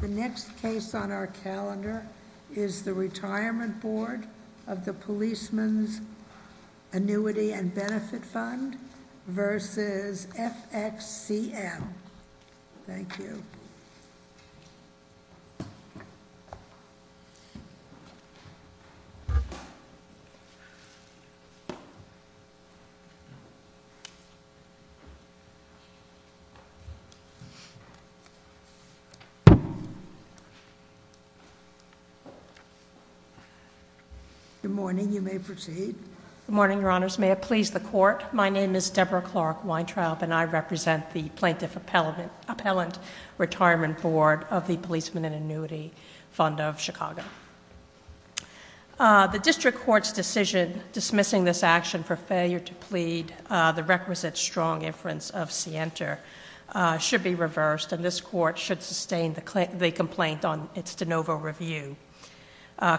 The next case on our calendar is the Retirement Board of the Policeman's Annuity and Benefit Fund v. FXCM. Thank you. Good morning, you may proceed. Good morning, Your Honors. May it please the Court, my name is Deborah Clark Weintraub and I represent the Plaintiff Appellant Retirement Board of the Policeman's Annuity Fund of Chicago. The District Court's decision dismissing this action for failure to plead the requisite strong inference of scienter should be reversed and this Court should sustain the complaint on its de novo review.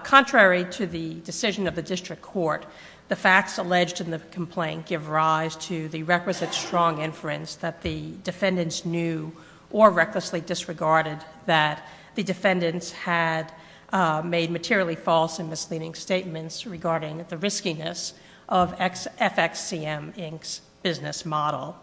Contrary to the decision of the District Court, the facts alleged in the complaint give rise to the requisite strong inference that the defendants knew or recklessly disregarded that the defendants had made materially false and misleading statements regarding the riskiness of FXCM, Inc.'s business model.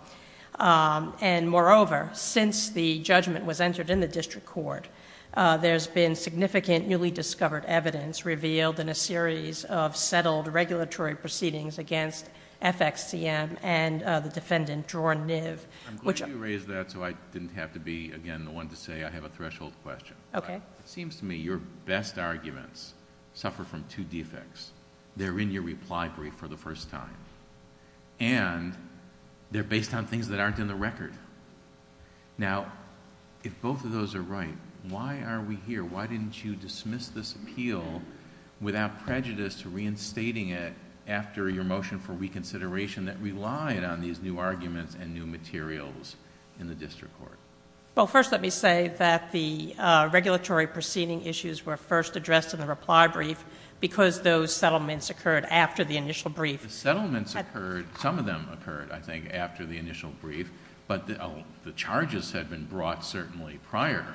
Moreover, since the judgment was entered in the District Court, there's been significant newly discovered evidence revealed in a series of settled regulatory proceedings against FXCM and the defendant, Dror Niv... I'm glad you raised that so I didn't have to be again the one to say I have a threshold question. Okay. It seems to me your best arguments suffer from two defects. They're in your reply brief for the first time and they're based on things that aren't in the record. Now, if both of those are right, why are we here? Why didn't you dismiss this appeal without prejudice to reinstating it after your motion for reconsideration that relied on these new arguments and new materials in the District Court? Well, first let me say that the regulatory proceeding issues were first addressed in the reply brief because those settlements occurred after the initial brief. The settlements occurred, some of them occurred, I think, after the initial brief, but the charges had been brought certainly prior.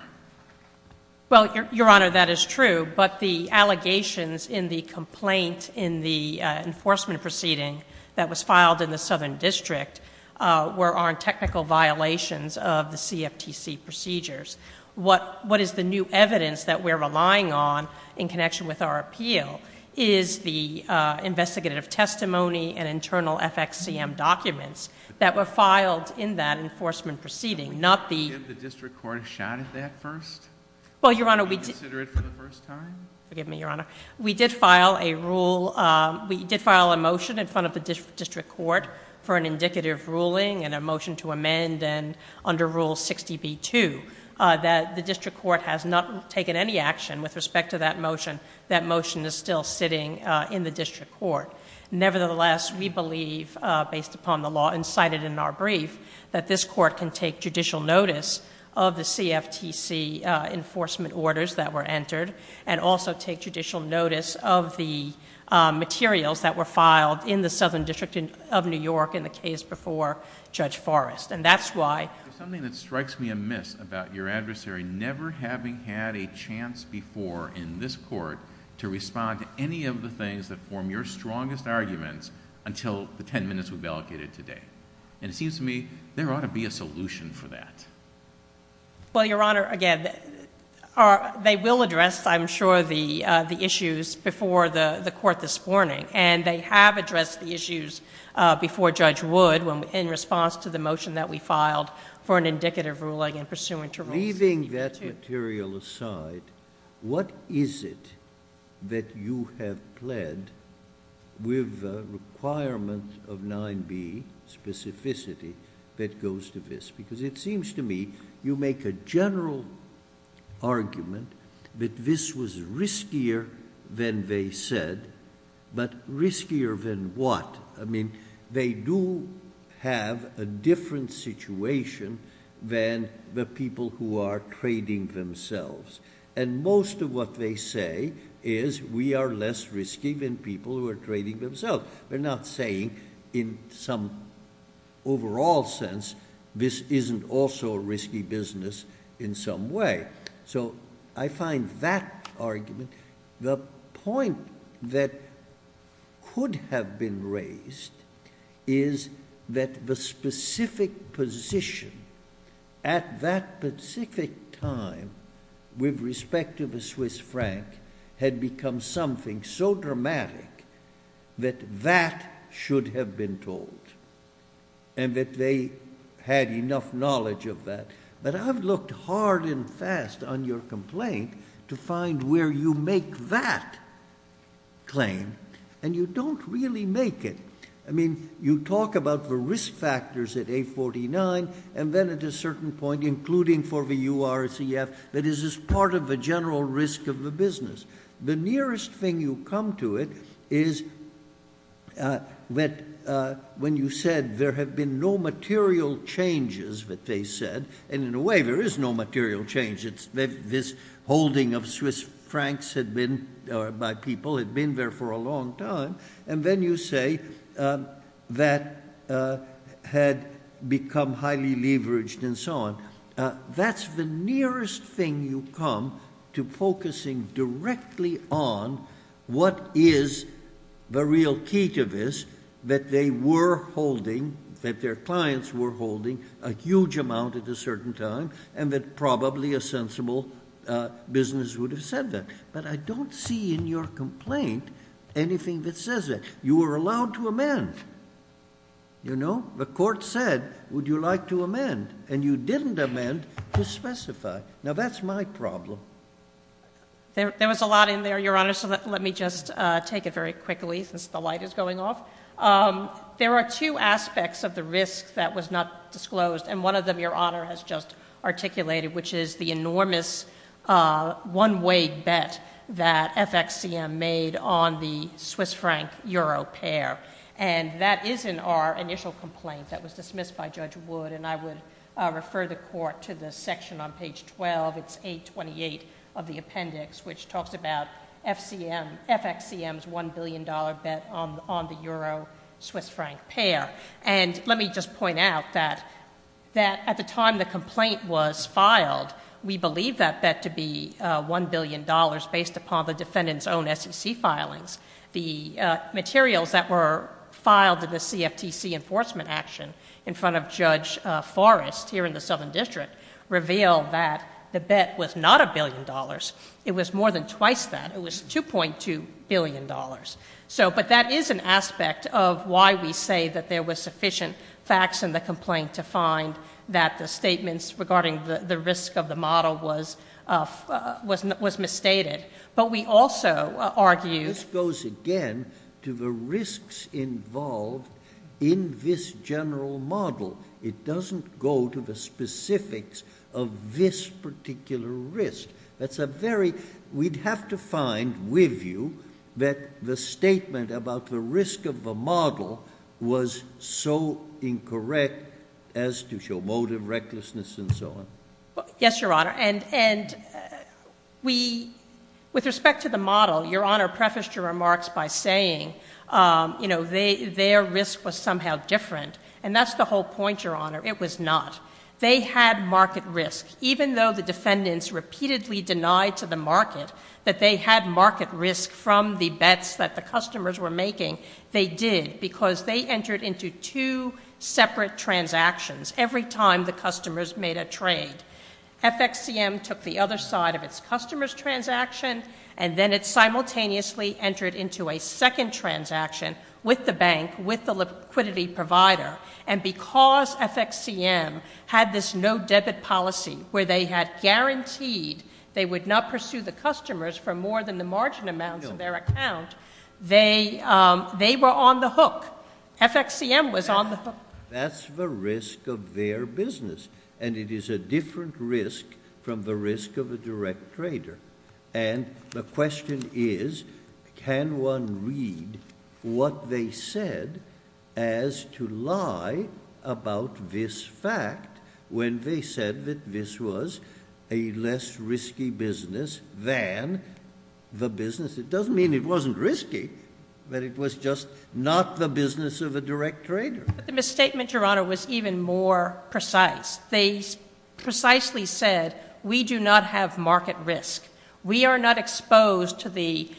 Well, Your Honor, that is true, but the allegations in the complaint in the enforcement proceeding that was filed in the Southern District were on technical violations of the CFTC procedures. What is the new evidence that we're relying on in connection with our appeal is the investigative testimony and internal FXCM documents that were filed in that enforcement proceeding, not the... Did the District Court have a shot at that first? Well, Your Honor, we... Did you consider it for the first time? Forgive me, Your Honor. We did file a rule... we did file a motion in front of the District Court for an indicative ruling and a motion to amend and under Rule 60b-2 that the District Court has not taken any action with respect to that motion. That motion is still sitting in the District Court. Nevertheless, we believe, based upon the law incited in our brief, that this Court can take judicial notice of the CFTC enforcement orders that were entered and also take judicial notice of the materials that were filed in the Southern District of New York in the case before Judge Forrest. And that's why... There's something that strikes me amiss about your adversary never having had a chance before in this Court to respond to any of the things that form your strongest arguments until the ten minutes we've allocated today. And it seems to me there ought to be a solution for that. Well, Your Honor, again, they will address, I'm sure, the issues before the Court this morning, and they have addressed the issues before Judge Wood in response to the motion that we filed for an indicative ruling in pursuant to Rule 60b-2. Leaving that material aside, what is it that you have pled with the requirement of 9b, you make a general argument that this was riskier than they said, but riskier than what? I mean, they do have a different situation than the people who are trading themselves. And most of what they say is we are less risky than people who are trading themselves. They're not saying in some overall sense this isn't also a risky business in some way. So I find that argument... The point that could have been raised is that the specific position at that specific time with respect to the Swiss franc had become something so dramatic that that should have been told, and that they had enough knowledge of that. But I've looked hard and fast on your complaint to find where you make that claim, and you don't really make it. I mean, you talk about the risk factors at A49, and then at a certain point, including for the URCF, that this is part of the general risk of the business. The nearest thing you come to it is that when you said there have been no material changes that they said, and in a way there is no material change. This holding of Swiss francs by people had been there for a long time, and then you say that had become highly leveraged and so on. That's the nearest thing you come to focusing directly on what is the real key to this, that they were holding, that their clients were holding a huge amount at a certain time, and that probably a sensible business would have said that. But I don't see in your complaint anything that says that. You were allowed to amend. The court said, would you like to amend? And you didn't amend to specify. Now, that's my problem. There was a lot in there, Your Honor, so let me just take it very quickly since the light is going off. There are two aspects of the risk that was not disclosed, and one of them, Your Honor, has just articulated, which is the enormous one-way bet that FXCM made on the Swiss franc-euro pair. And that is in our initial complaint that was dismissed by Judge Wood, and I would refer the Court to the section on page 12, it's 828 of the appendix, which talks about FXCM's $1 billion bet on the euro-Swiss franc pair. And let me just point out that at the time the complaint was filed, we believed that bet to be $1 billion based upon the defendant's own SEC filings. The materials that were filed in the CFTC enforcement action in front of Judge Forrest, here in the Southern District, revealed that the bet was not $1 billion. It was more than twice that. It was $2.2 billion. But that is an aspect of why we say that there was sufficient facts in the complaint to find that the statements regarding the risk of the model was misstated. But we also argued... This goes again to the risks involved in this general model. It doesn't go to the specifics of this particular risk. We'd have to find with you that the statement about the risk of the model was so incorrect as to show motive, recklessness, and so on. Yes, Your Honor, and with respect to the model, Your Honor prefaced your remarks by saying their risk was somehow different, and that's the whole point, Your Honor. It was not. They had market risk. Even though the defendants repeatedly denied to the market that they had market risk from the bets that the customers were making, they did because they entered into two separate transactions every time the customers made a trade. FXCM took the other side of its customers' transaction, and then it simultaneously entered into a second transaction with the bank, with the liquidity provider. And because FXCM had this no-debit policy where they had guaranteed they would not pursue the customers for more than the margin amounts of their account, they were on the hook. FXCM was on the hook. That's the risk of their business, and it is a different risk from the risk of a direct trader. And the question is, can one read what they said as to lie about this fact when they said that this was a less risky business than the business? It doesn't mean it wasn't risky, that it was just not the business of a direct trader. The misstatement, Your Honor, was even more precise. They precisely said, we do not have market risk. We are not exposed to the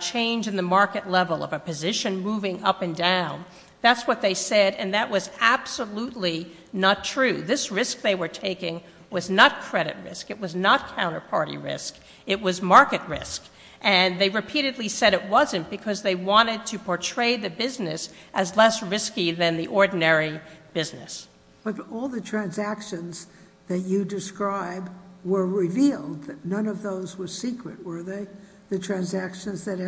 change in the market level of a position moving up and down. That's what they said, and that was absolutely not true. This risk they were taking was not credit risk. It was not counterparty risk. It was market risk. And they repeatedly said it wasn't because they wanted to portray the business as less risky than the ordinary business. But all the transactions that you describe were revealed. None of those were secret, were they? The transactions that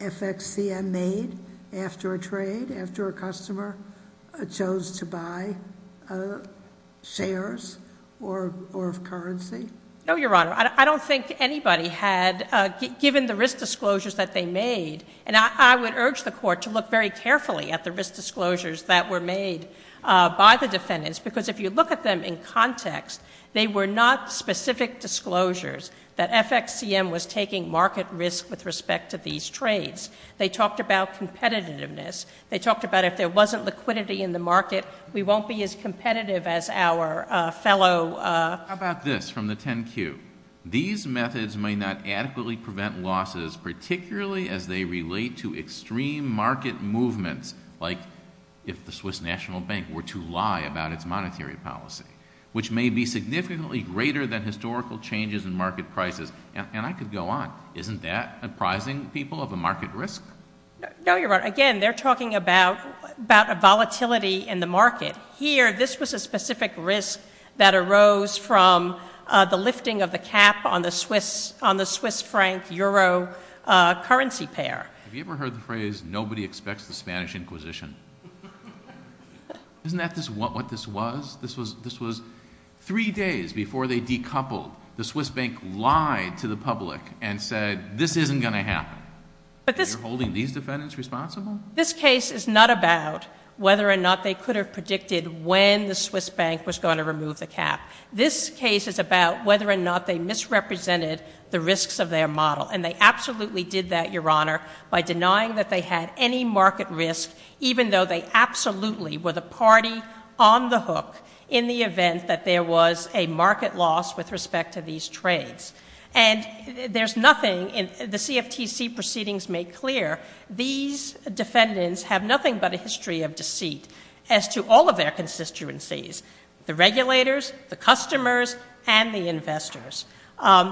FXCM made after a trade, after a customer chose to buy shares or currency? No, Your Honor. I don't think anybody had, given the risk disclosures that they made, and I would urge the Court to look very carefully at the risk disclosures that were made by the defendants because if you look at them in context, they were not specific disclosures that FXCM was taking market risk with respect to these trades. They talked about competitiveness. They talked about if there wasn't liquidity in the market, we won't be as competitive as our fellow... How about this from the 10Q? These methods may not adequately prevent losses, particularly as they relate to extreme market movements like if the Swiss National Bank were to lie about its monetary policy, which may be significantly greater than historical changes in market prices. And I could go on. Isn't that apprising people of a market risk? No, Your Honor. Again, they're talking about a volatility in the market. Here, this was a specific risk that arose from the lifting of the cap on the Swiss franc-euro currency pair. Have you ever heard the phrase nobody expects the Spanish Inquisition? Isn't that what this was? This was three days before they decoupled. The Swiss bank lied to the public and said this isn't going to happen. You're holding these defendants responsible? This case is not about whether or not they could have predicted when the Swiss bank was going to remove the cap. This case is about whether or not they misrepresented the risks of their model, and they absolutely did that, Your Honor, by denying that they had any market risk, even though they absolutely were the party on the hook in the event that there was a market loss with respect to these trades. And there's nothing in the CFTC proceedings make clear. These defendants have nothing but a history of deceit as to all of their constituencies, the regulators, the customers, and the investors.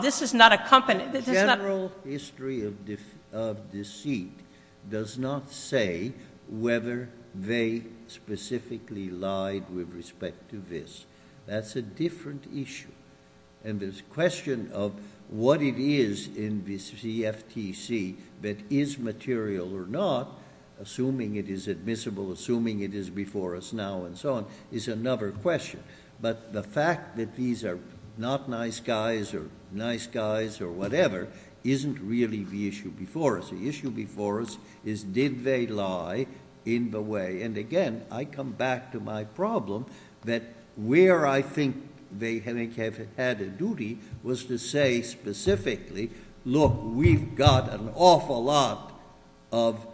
This is not a company... General history of deceit does not say whether they specifically lied with respect to this. That's a different issue. And this question of what it is in this CFTC that is material or not, assuming it is admissible, assuming it is before us now, and so on, is another question. But the fact that these are not nice guys or nice guys or whatever isn't really the issue before us. The issue before us is did they lie in the way... And again, I come back to my problem that where I think they have had a duty was to say specifically, look, we've got an awful lot of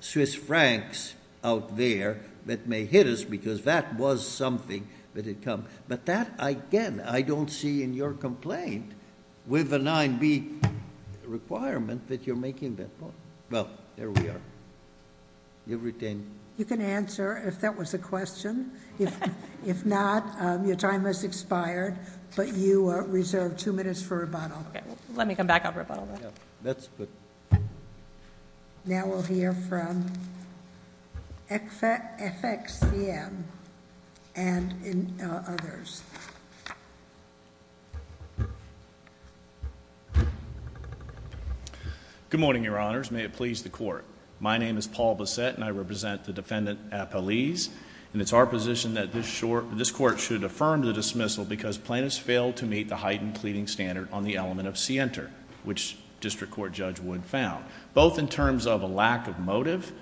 Swiss francs out there that may hit us because that was something that had come. But that, again, I don't see in your complaint with the 9b requirement that you're making that point. Well, there we are. You can answer if that was a question. If not, your time has expired, but you are reserved 2 minutes for rebuttal. Let me come back up for rebuttal then. That's good. Now we'll hear from FXCM and others. Good morning, Your Honors. May it please the Court. My name is Paul Blissett, and I represent the Defendant Appellees, and it's our position that this Court should affirm the dismissal because plaintiffs failed to meet the heightened cleaving standard on the element of scienter, which District Court Judge Wood found, both in terms of a lack of motive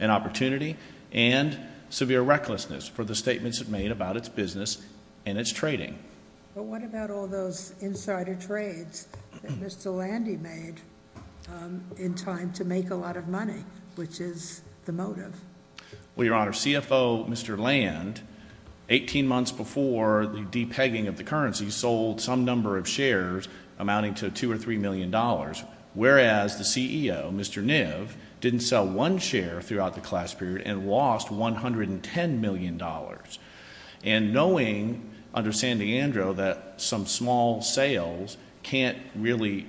and opportunity and severe recklessness for the statements it made about its business and its trading. But what about all those insider trades that Mr. Landy made in time to make a lot of money, which is the motive? Well, Your Honor, CFO Mr. Land, 18 months before the de-pegging of the currency, sold some number of shares amounting to $2 million or $3 million, whereas the CEO, Mr. Niv, didn't sell one share throughout the class period and lost $110 million. And knowing under San D'Andre that some small sales can't really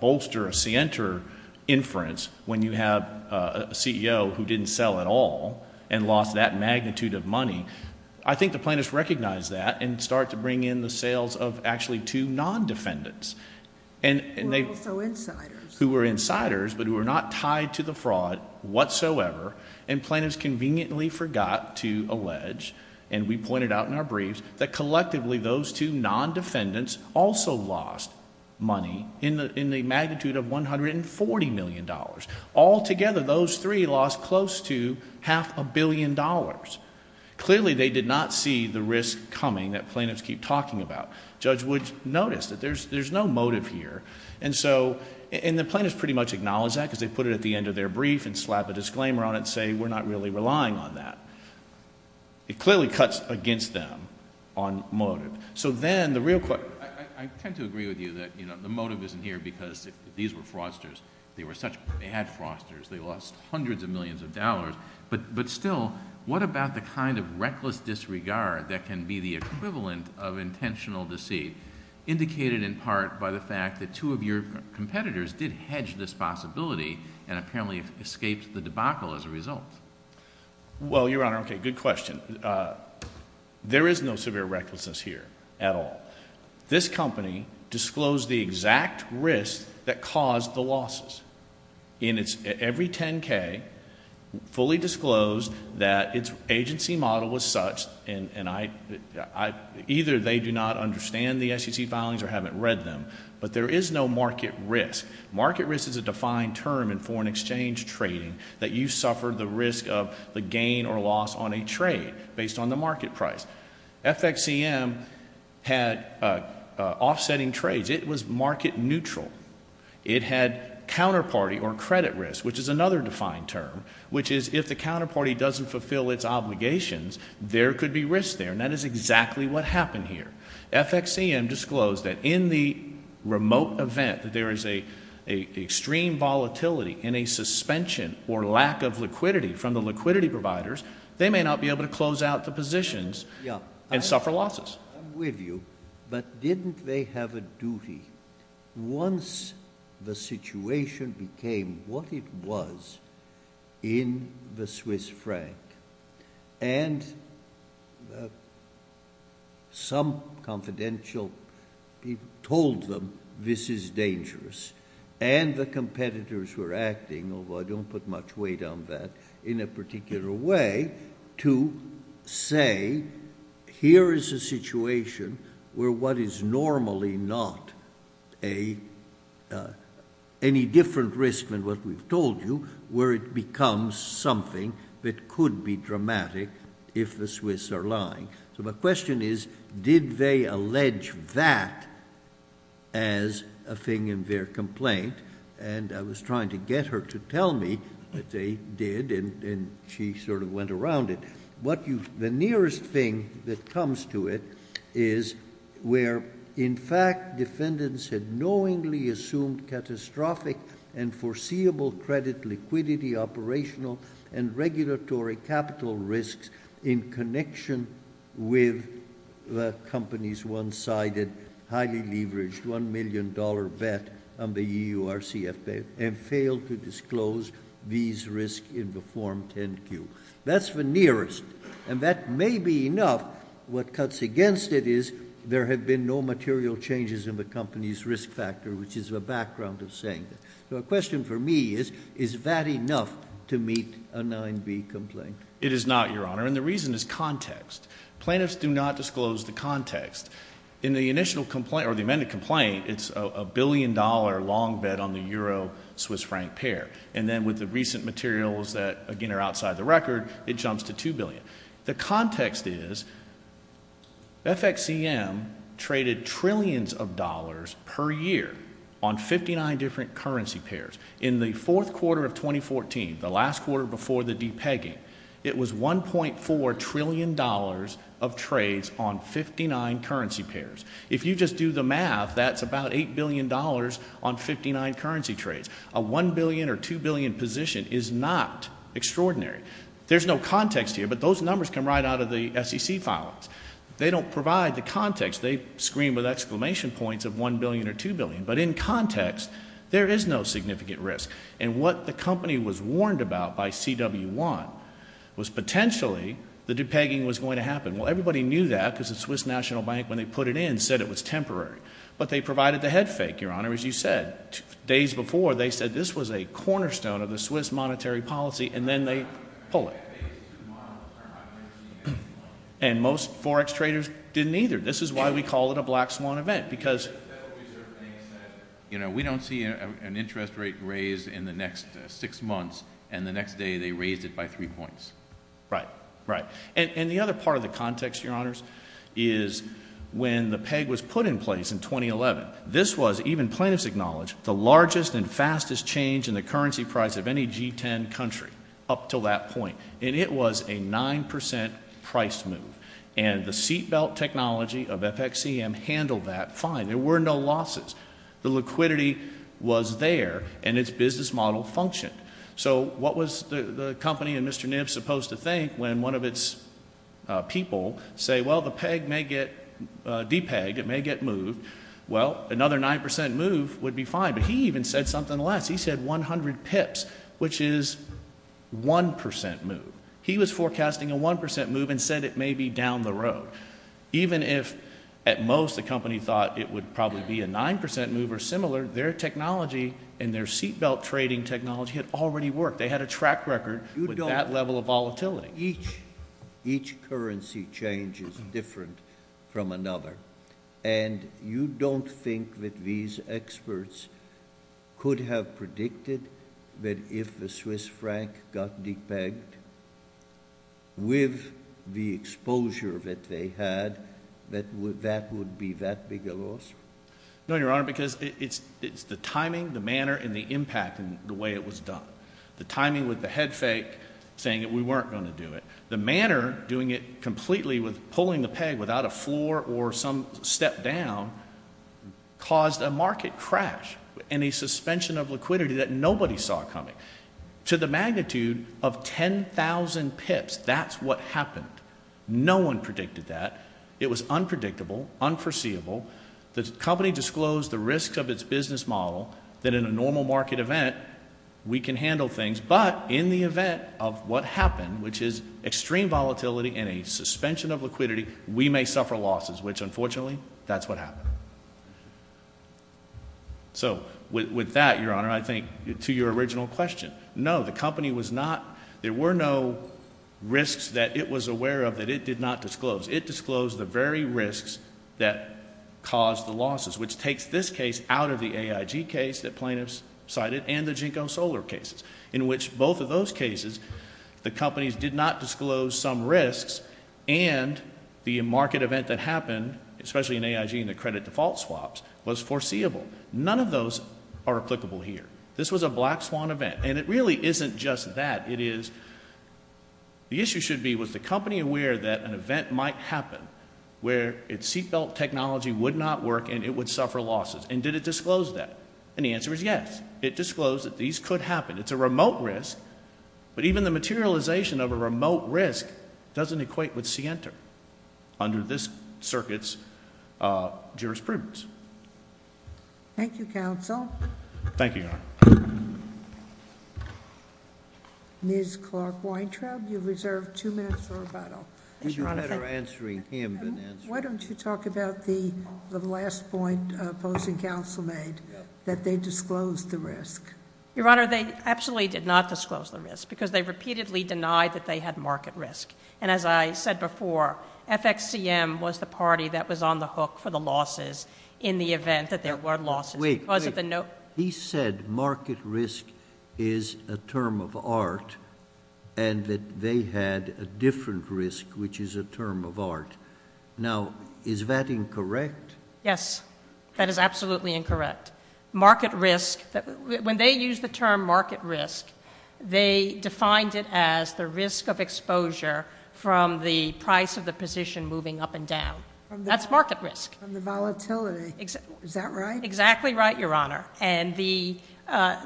bolster a scienter inference when you have a CEO who didn't sell at all and lost that magnitude of money, I think the plaintiffs recognized that and started to bring in the sales of actually two non-defendants. Who were also insiders. Who were insiders, but who were not tied to the fraud whatsoever, and plaintiffs conveniently forgot to allege, and we pointed out in our briefs, that collectively those two non-defendants also lost money in the magnitude of $140 million. Altogether, those three lost close to half a billion dollars. Clearly, they did not see the risk coming that plaintiffs keep talking about. Judge Wood noticed that there's no motive here. And the plaintiffs pretty much acknowledged that because they put it at the end of their brief and slap a disclaimer on it and say, we're not really relying on that. It clearly cuts against them on motive. So then, the real question... I tend to agree with you that the motive isn't here because these were fraudsters. They were such bad fraudsters. They lost hundreds of millions of dollars. But still, what about the kind of reckless disregard that can be the equivalent of intentional deceit, indicated in part by the fact that two of your competitors did hedge this possibility and apparently escaped the debacle as a result? Well, Your Honor, okay, good question. There is no severe recklessness here at all. This company disclosed the exact risk that caused the losses. In its every 10K, fully disclosed that its agency model was such, and either they do not understand the SEC filings or haven't read them, but there is no market risk. Market risk is a defined term in foreign exchange trading that you suffer the risk of the gain or loss on a trade based on the market price. FXCM had offsetting trades. It was market neutral. It had counterparty or credit risk, which is another defined term, which is if the counterparty doesn't fulfill its obligations, there could be risk there, and that is exactly what happened here. FXCM disclosed that in the remote event that there is an extreme volatility in a suspension or lack of liquidity from the liquidity providers, they may not be able to close out the positions and suffer losses. I'm with you, but didn't they have a duty? Once the situation became what it was in the Swiss franc and some confidential people told them this is dangerous and the competitors were acting, although I don't put much weight on that, in a particular way to say here is a situation where what is normally not any different risk than what we've told you, where it becomes something that could be dramatic if the Swiss are lying. So my question is, did they allege that as a thing in their complaint? And I was trying to get her to tell me that they did and she sort of went around it. The nearest thing that comes to it is where in fact defendants had knowingly assumed catastrophic and foreseeable credit liquidity, operational and regulatory capital risks in connection with the company's one-sided, highly leveraged $1 million bet on the EURCF and failed to disclose these risks in the Form 10-Q. That's the nearest. And that may be enough. What cuts against it is there have been no material changes in the company's risk factor, which is a background of saying that. So the question for me is, is that enough to meet a 9b complaint? It is not, Your Honour, and the reason is context. Plaintiffs do not disclose the context. In the initial complaint, or the amended complaint, it's a billion-dollar long bet on the EURCF pair. And then with the recent materials that, again, are outside the record, it jumps to 2 billion. The context is, FXCM traded trillions of dollars per year on 59 different currency pairs. In the fourth quarter of 2014, the last quarter before the de-pegging, it was $1.4 trillion of trades on 59 currency pairs. If you just do the math, that's about $8 billion on 59 currency trades. A 1 billion or 2 billion position is not extraordinary. There's no context here, but those numbers come right out of the SEC filings. They don't provide the context. They scream with exclamation points of 1 billion or 2 billion. But in context, there is no significant risk. And what the company was warned about by CW1 was potentially the de-pegging was going to happen. Well, everybody knew that because the Swiss National Bank, when they put it in, said it was temporary. But they provided the head fake, Your Honour, as you said. Days before, they said this was a cornerstone of the Swiss monetary policy, and then they pull it. And most Forex traders didn't either. This is why we call it a black swan event, because... Right, right. And the other part of the context, Your Honours, is when the peg was put in place in 2011, this was, even plaintiffs acknowledge, the largest and fastest change in the currency price of any G10 country up till that point. And it was a 9% price move. And the seatbelt technology of FXCM handled that fine. There were no losses. The liquidity was there, and its business model functioned. So what was the company and Mr Nibs supposed to think when one of its people say, well, the peg may get de-pegged, it may get moved. Well, another 9% move would be fine. But he even said something less. He said 100 pips, which is 1% move. He was forecasting a 1% move and said it may be down the road. Even if, at most, the company thought it would probably be a 9% move or similar, their technology and their seatbelt trading technology had already worked. They had a track record with that level of volatility. Each currency change is different from another. And you don't think that these experts could have predicted that if the Swiss franc got de-pegged with the exposure that they had, that that would be that big a loss? No, Your Honor, because it's the timing, the manner, and the impact in the way it was done. The timing with the head fake saying that we weren't going to do it. The manner doing it completely with pulling the peg without a floor or some step down caused a market crash and a suspension of liquidity that nobody saw coming. To the magnitude of 10,000 pips, that's what happened. No one predicted that. It was unpredictable, unforeseeable. The company disclosed the risks of its business model that in a normal market event, we can handle things. But in the event of what happened, which is extreme volatility and a suspension of liquidity, we may suffer losses, which unfortunately, that's what happened. So with that, Your Honor, I think to your original question, no, the company was not, there were no risks that it was aware of that it did not disclose. It disclosed the very risks that caused the losses, which takes this case out of the AIG case that plaintiffs cited and the JNCO solar cases, in which both of those cases, the companies did not disclose some risks and the market event that happened, especially in AIG and the credit default swaps, was foreseeable. None of those are applicable here. This was a black swan event, and it really isn't just that. It is, the issue should be, was the company aware that an event might happen where its seatbelt technology would not work and it would suffer losses, and did it disclose that? And the answer is yes, it disclosed that these could happen. It's a remote risk, but even the materialization of a remote risk doesn't equate with scienter under this circuit's jurisprudence. Thank you, counsel. Thank you, Your Honor. Ms. Clark-Weintraub, you have reserved 2 minutes for rebuttal. It's better answering him than answering me. Why don't you talk about the last point opposing counsel made, that they disclosed the risk. Your Honor, they absolutely did not disclose the risk because they repeatedly denied that they had market risk. And as I said before, FXCM was the party that was on the hook for the losses in the event that there were losses. Wait, wait. He said market risk is a term of art and that they had a different risk, which is a term of art. Now, is that incorrect? Yes, that is absolutely incorrect. Market risk, when they use the term market risk, they defined it as the risk of exposure from the price of the position moving up and down. That's market risk. From the volatility. Is that right? Exactly right, Your Honor.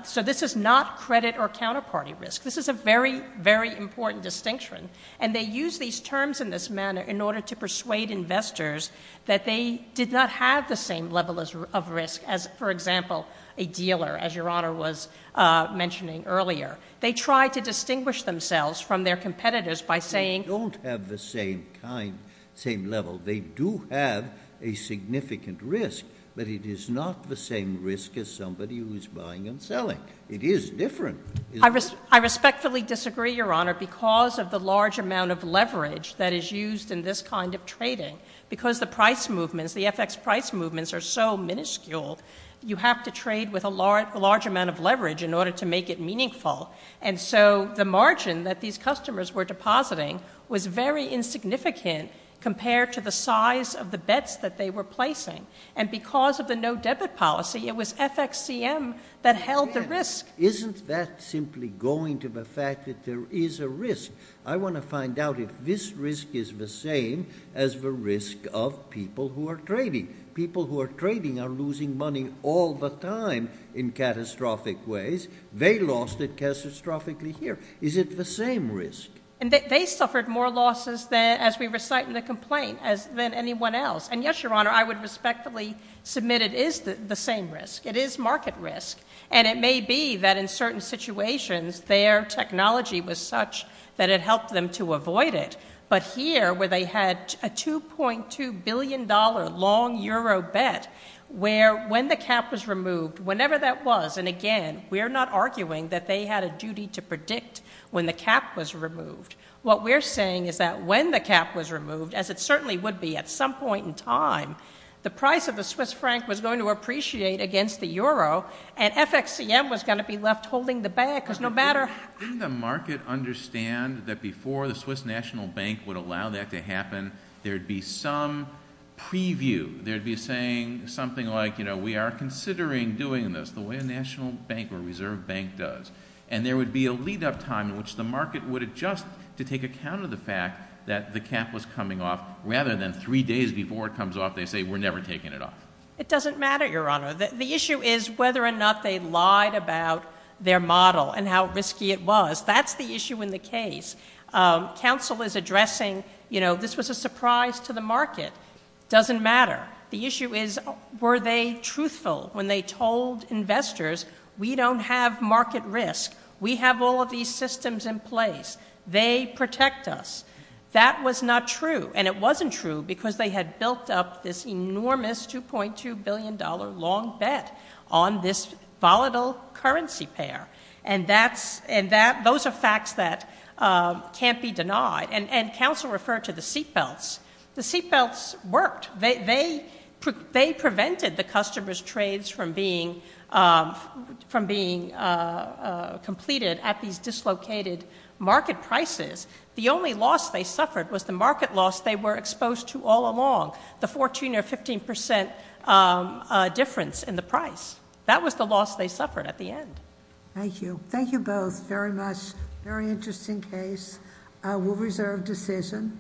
So this is not credit or counterparty risk. This is a very, very important distinction. And they use these terms in this manner in order to persuade investors that they did not have the same level of risk as, for example, a dealer, as Your Honor was mentioning earlier. They try to distinguish themselves from their competitors by saying... They don't have the same level. They do have a significant risk, but it is not the same risk as somebody who is buying and selling. It is different. I respectfully disagree, Your Honor, because of the large amount of leverage that is used in this kind of trading. Because the price movements, the FX price movements, are so minuscule, you have to trade with a large amount of leverage in order to make it meaningful. And so the margin that these customers were depositing was very insignificant compared to the size of the bets that they were placing. And because of the no-debit policy, it was FXCM that held the risk. Isn't that simply going to the fact that there is a risk? I want to find out if this risk is the same as the risk of people who are trading. People who are trading are losing money all the time in catastrophic ways. They lost it catastrophically here. Is it the same risk? They suffered more losses as we recite in the complaint than anyone else. And yes, Your Honor, I would respectfully submit it is the same risk. It is market risk. And it may be that in certain situations, their technology was such that it helped them to avoid it. But here, where they had a $2.2 billion long euro bet, where when the cap was removed, whenever that was, and again, we're not arguing that they had a duty to predict when the cap was removed. What we're saying is that when the cap was removed, as it certainly would be at some point in time, the price of the Swiss franc was going to appreciate against the euro, and FXCM was going to be left holding the bag because no matter— Didn't the market understand that before the Swiss National Bank would allow that to happen, there would be some preview? There would be saying something like, you know, we are considering doing this the way a national bank or reserve bank does. And there would be a lead-up time in which the market would adjust to take account of the fact that the cap was coming off, rather than three days before it comes off, they say we're never taking it off. It doesn't matter, Your Honor. The issue is whether or not they lied about their model and how risky it was. That's the issue in the case. Counsel is addressing, you know, this was a surprise to the market. It doesn't matter. The issue is were they truthful when they told investors, we don't have market risk. We have all of these systems in place. They protect us. That was not true. And it wasn't true because they had built up this enormous $2.2 billion long bet on this volatile currency pair. And those are facts that can't be denied. And counsel referred to the seatbelts. The seatbelts worked. They prevented the customers' trades from being completed at these dislocated market prices. The only loss they suffered was the market loss they were exposed to all along, the 14 or 15% difference in the price. That was the loss they suffered at the end. Thank you. Thank you both very much. Very interesting case. We'll reserve decision.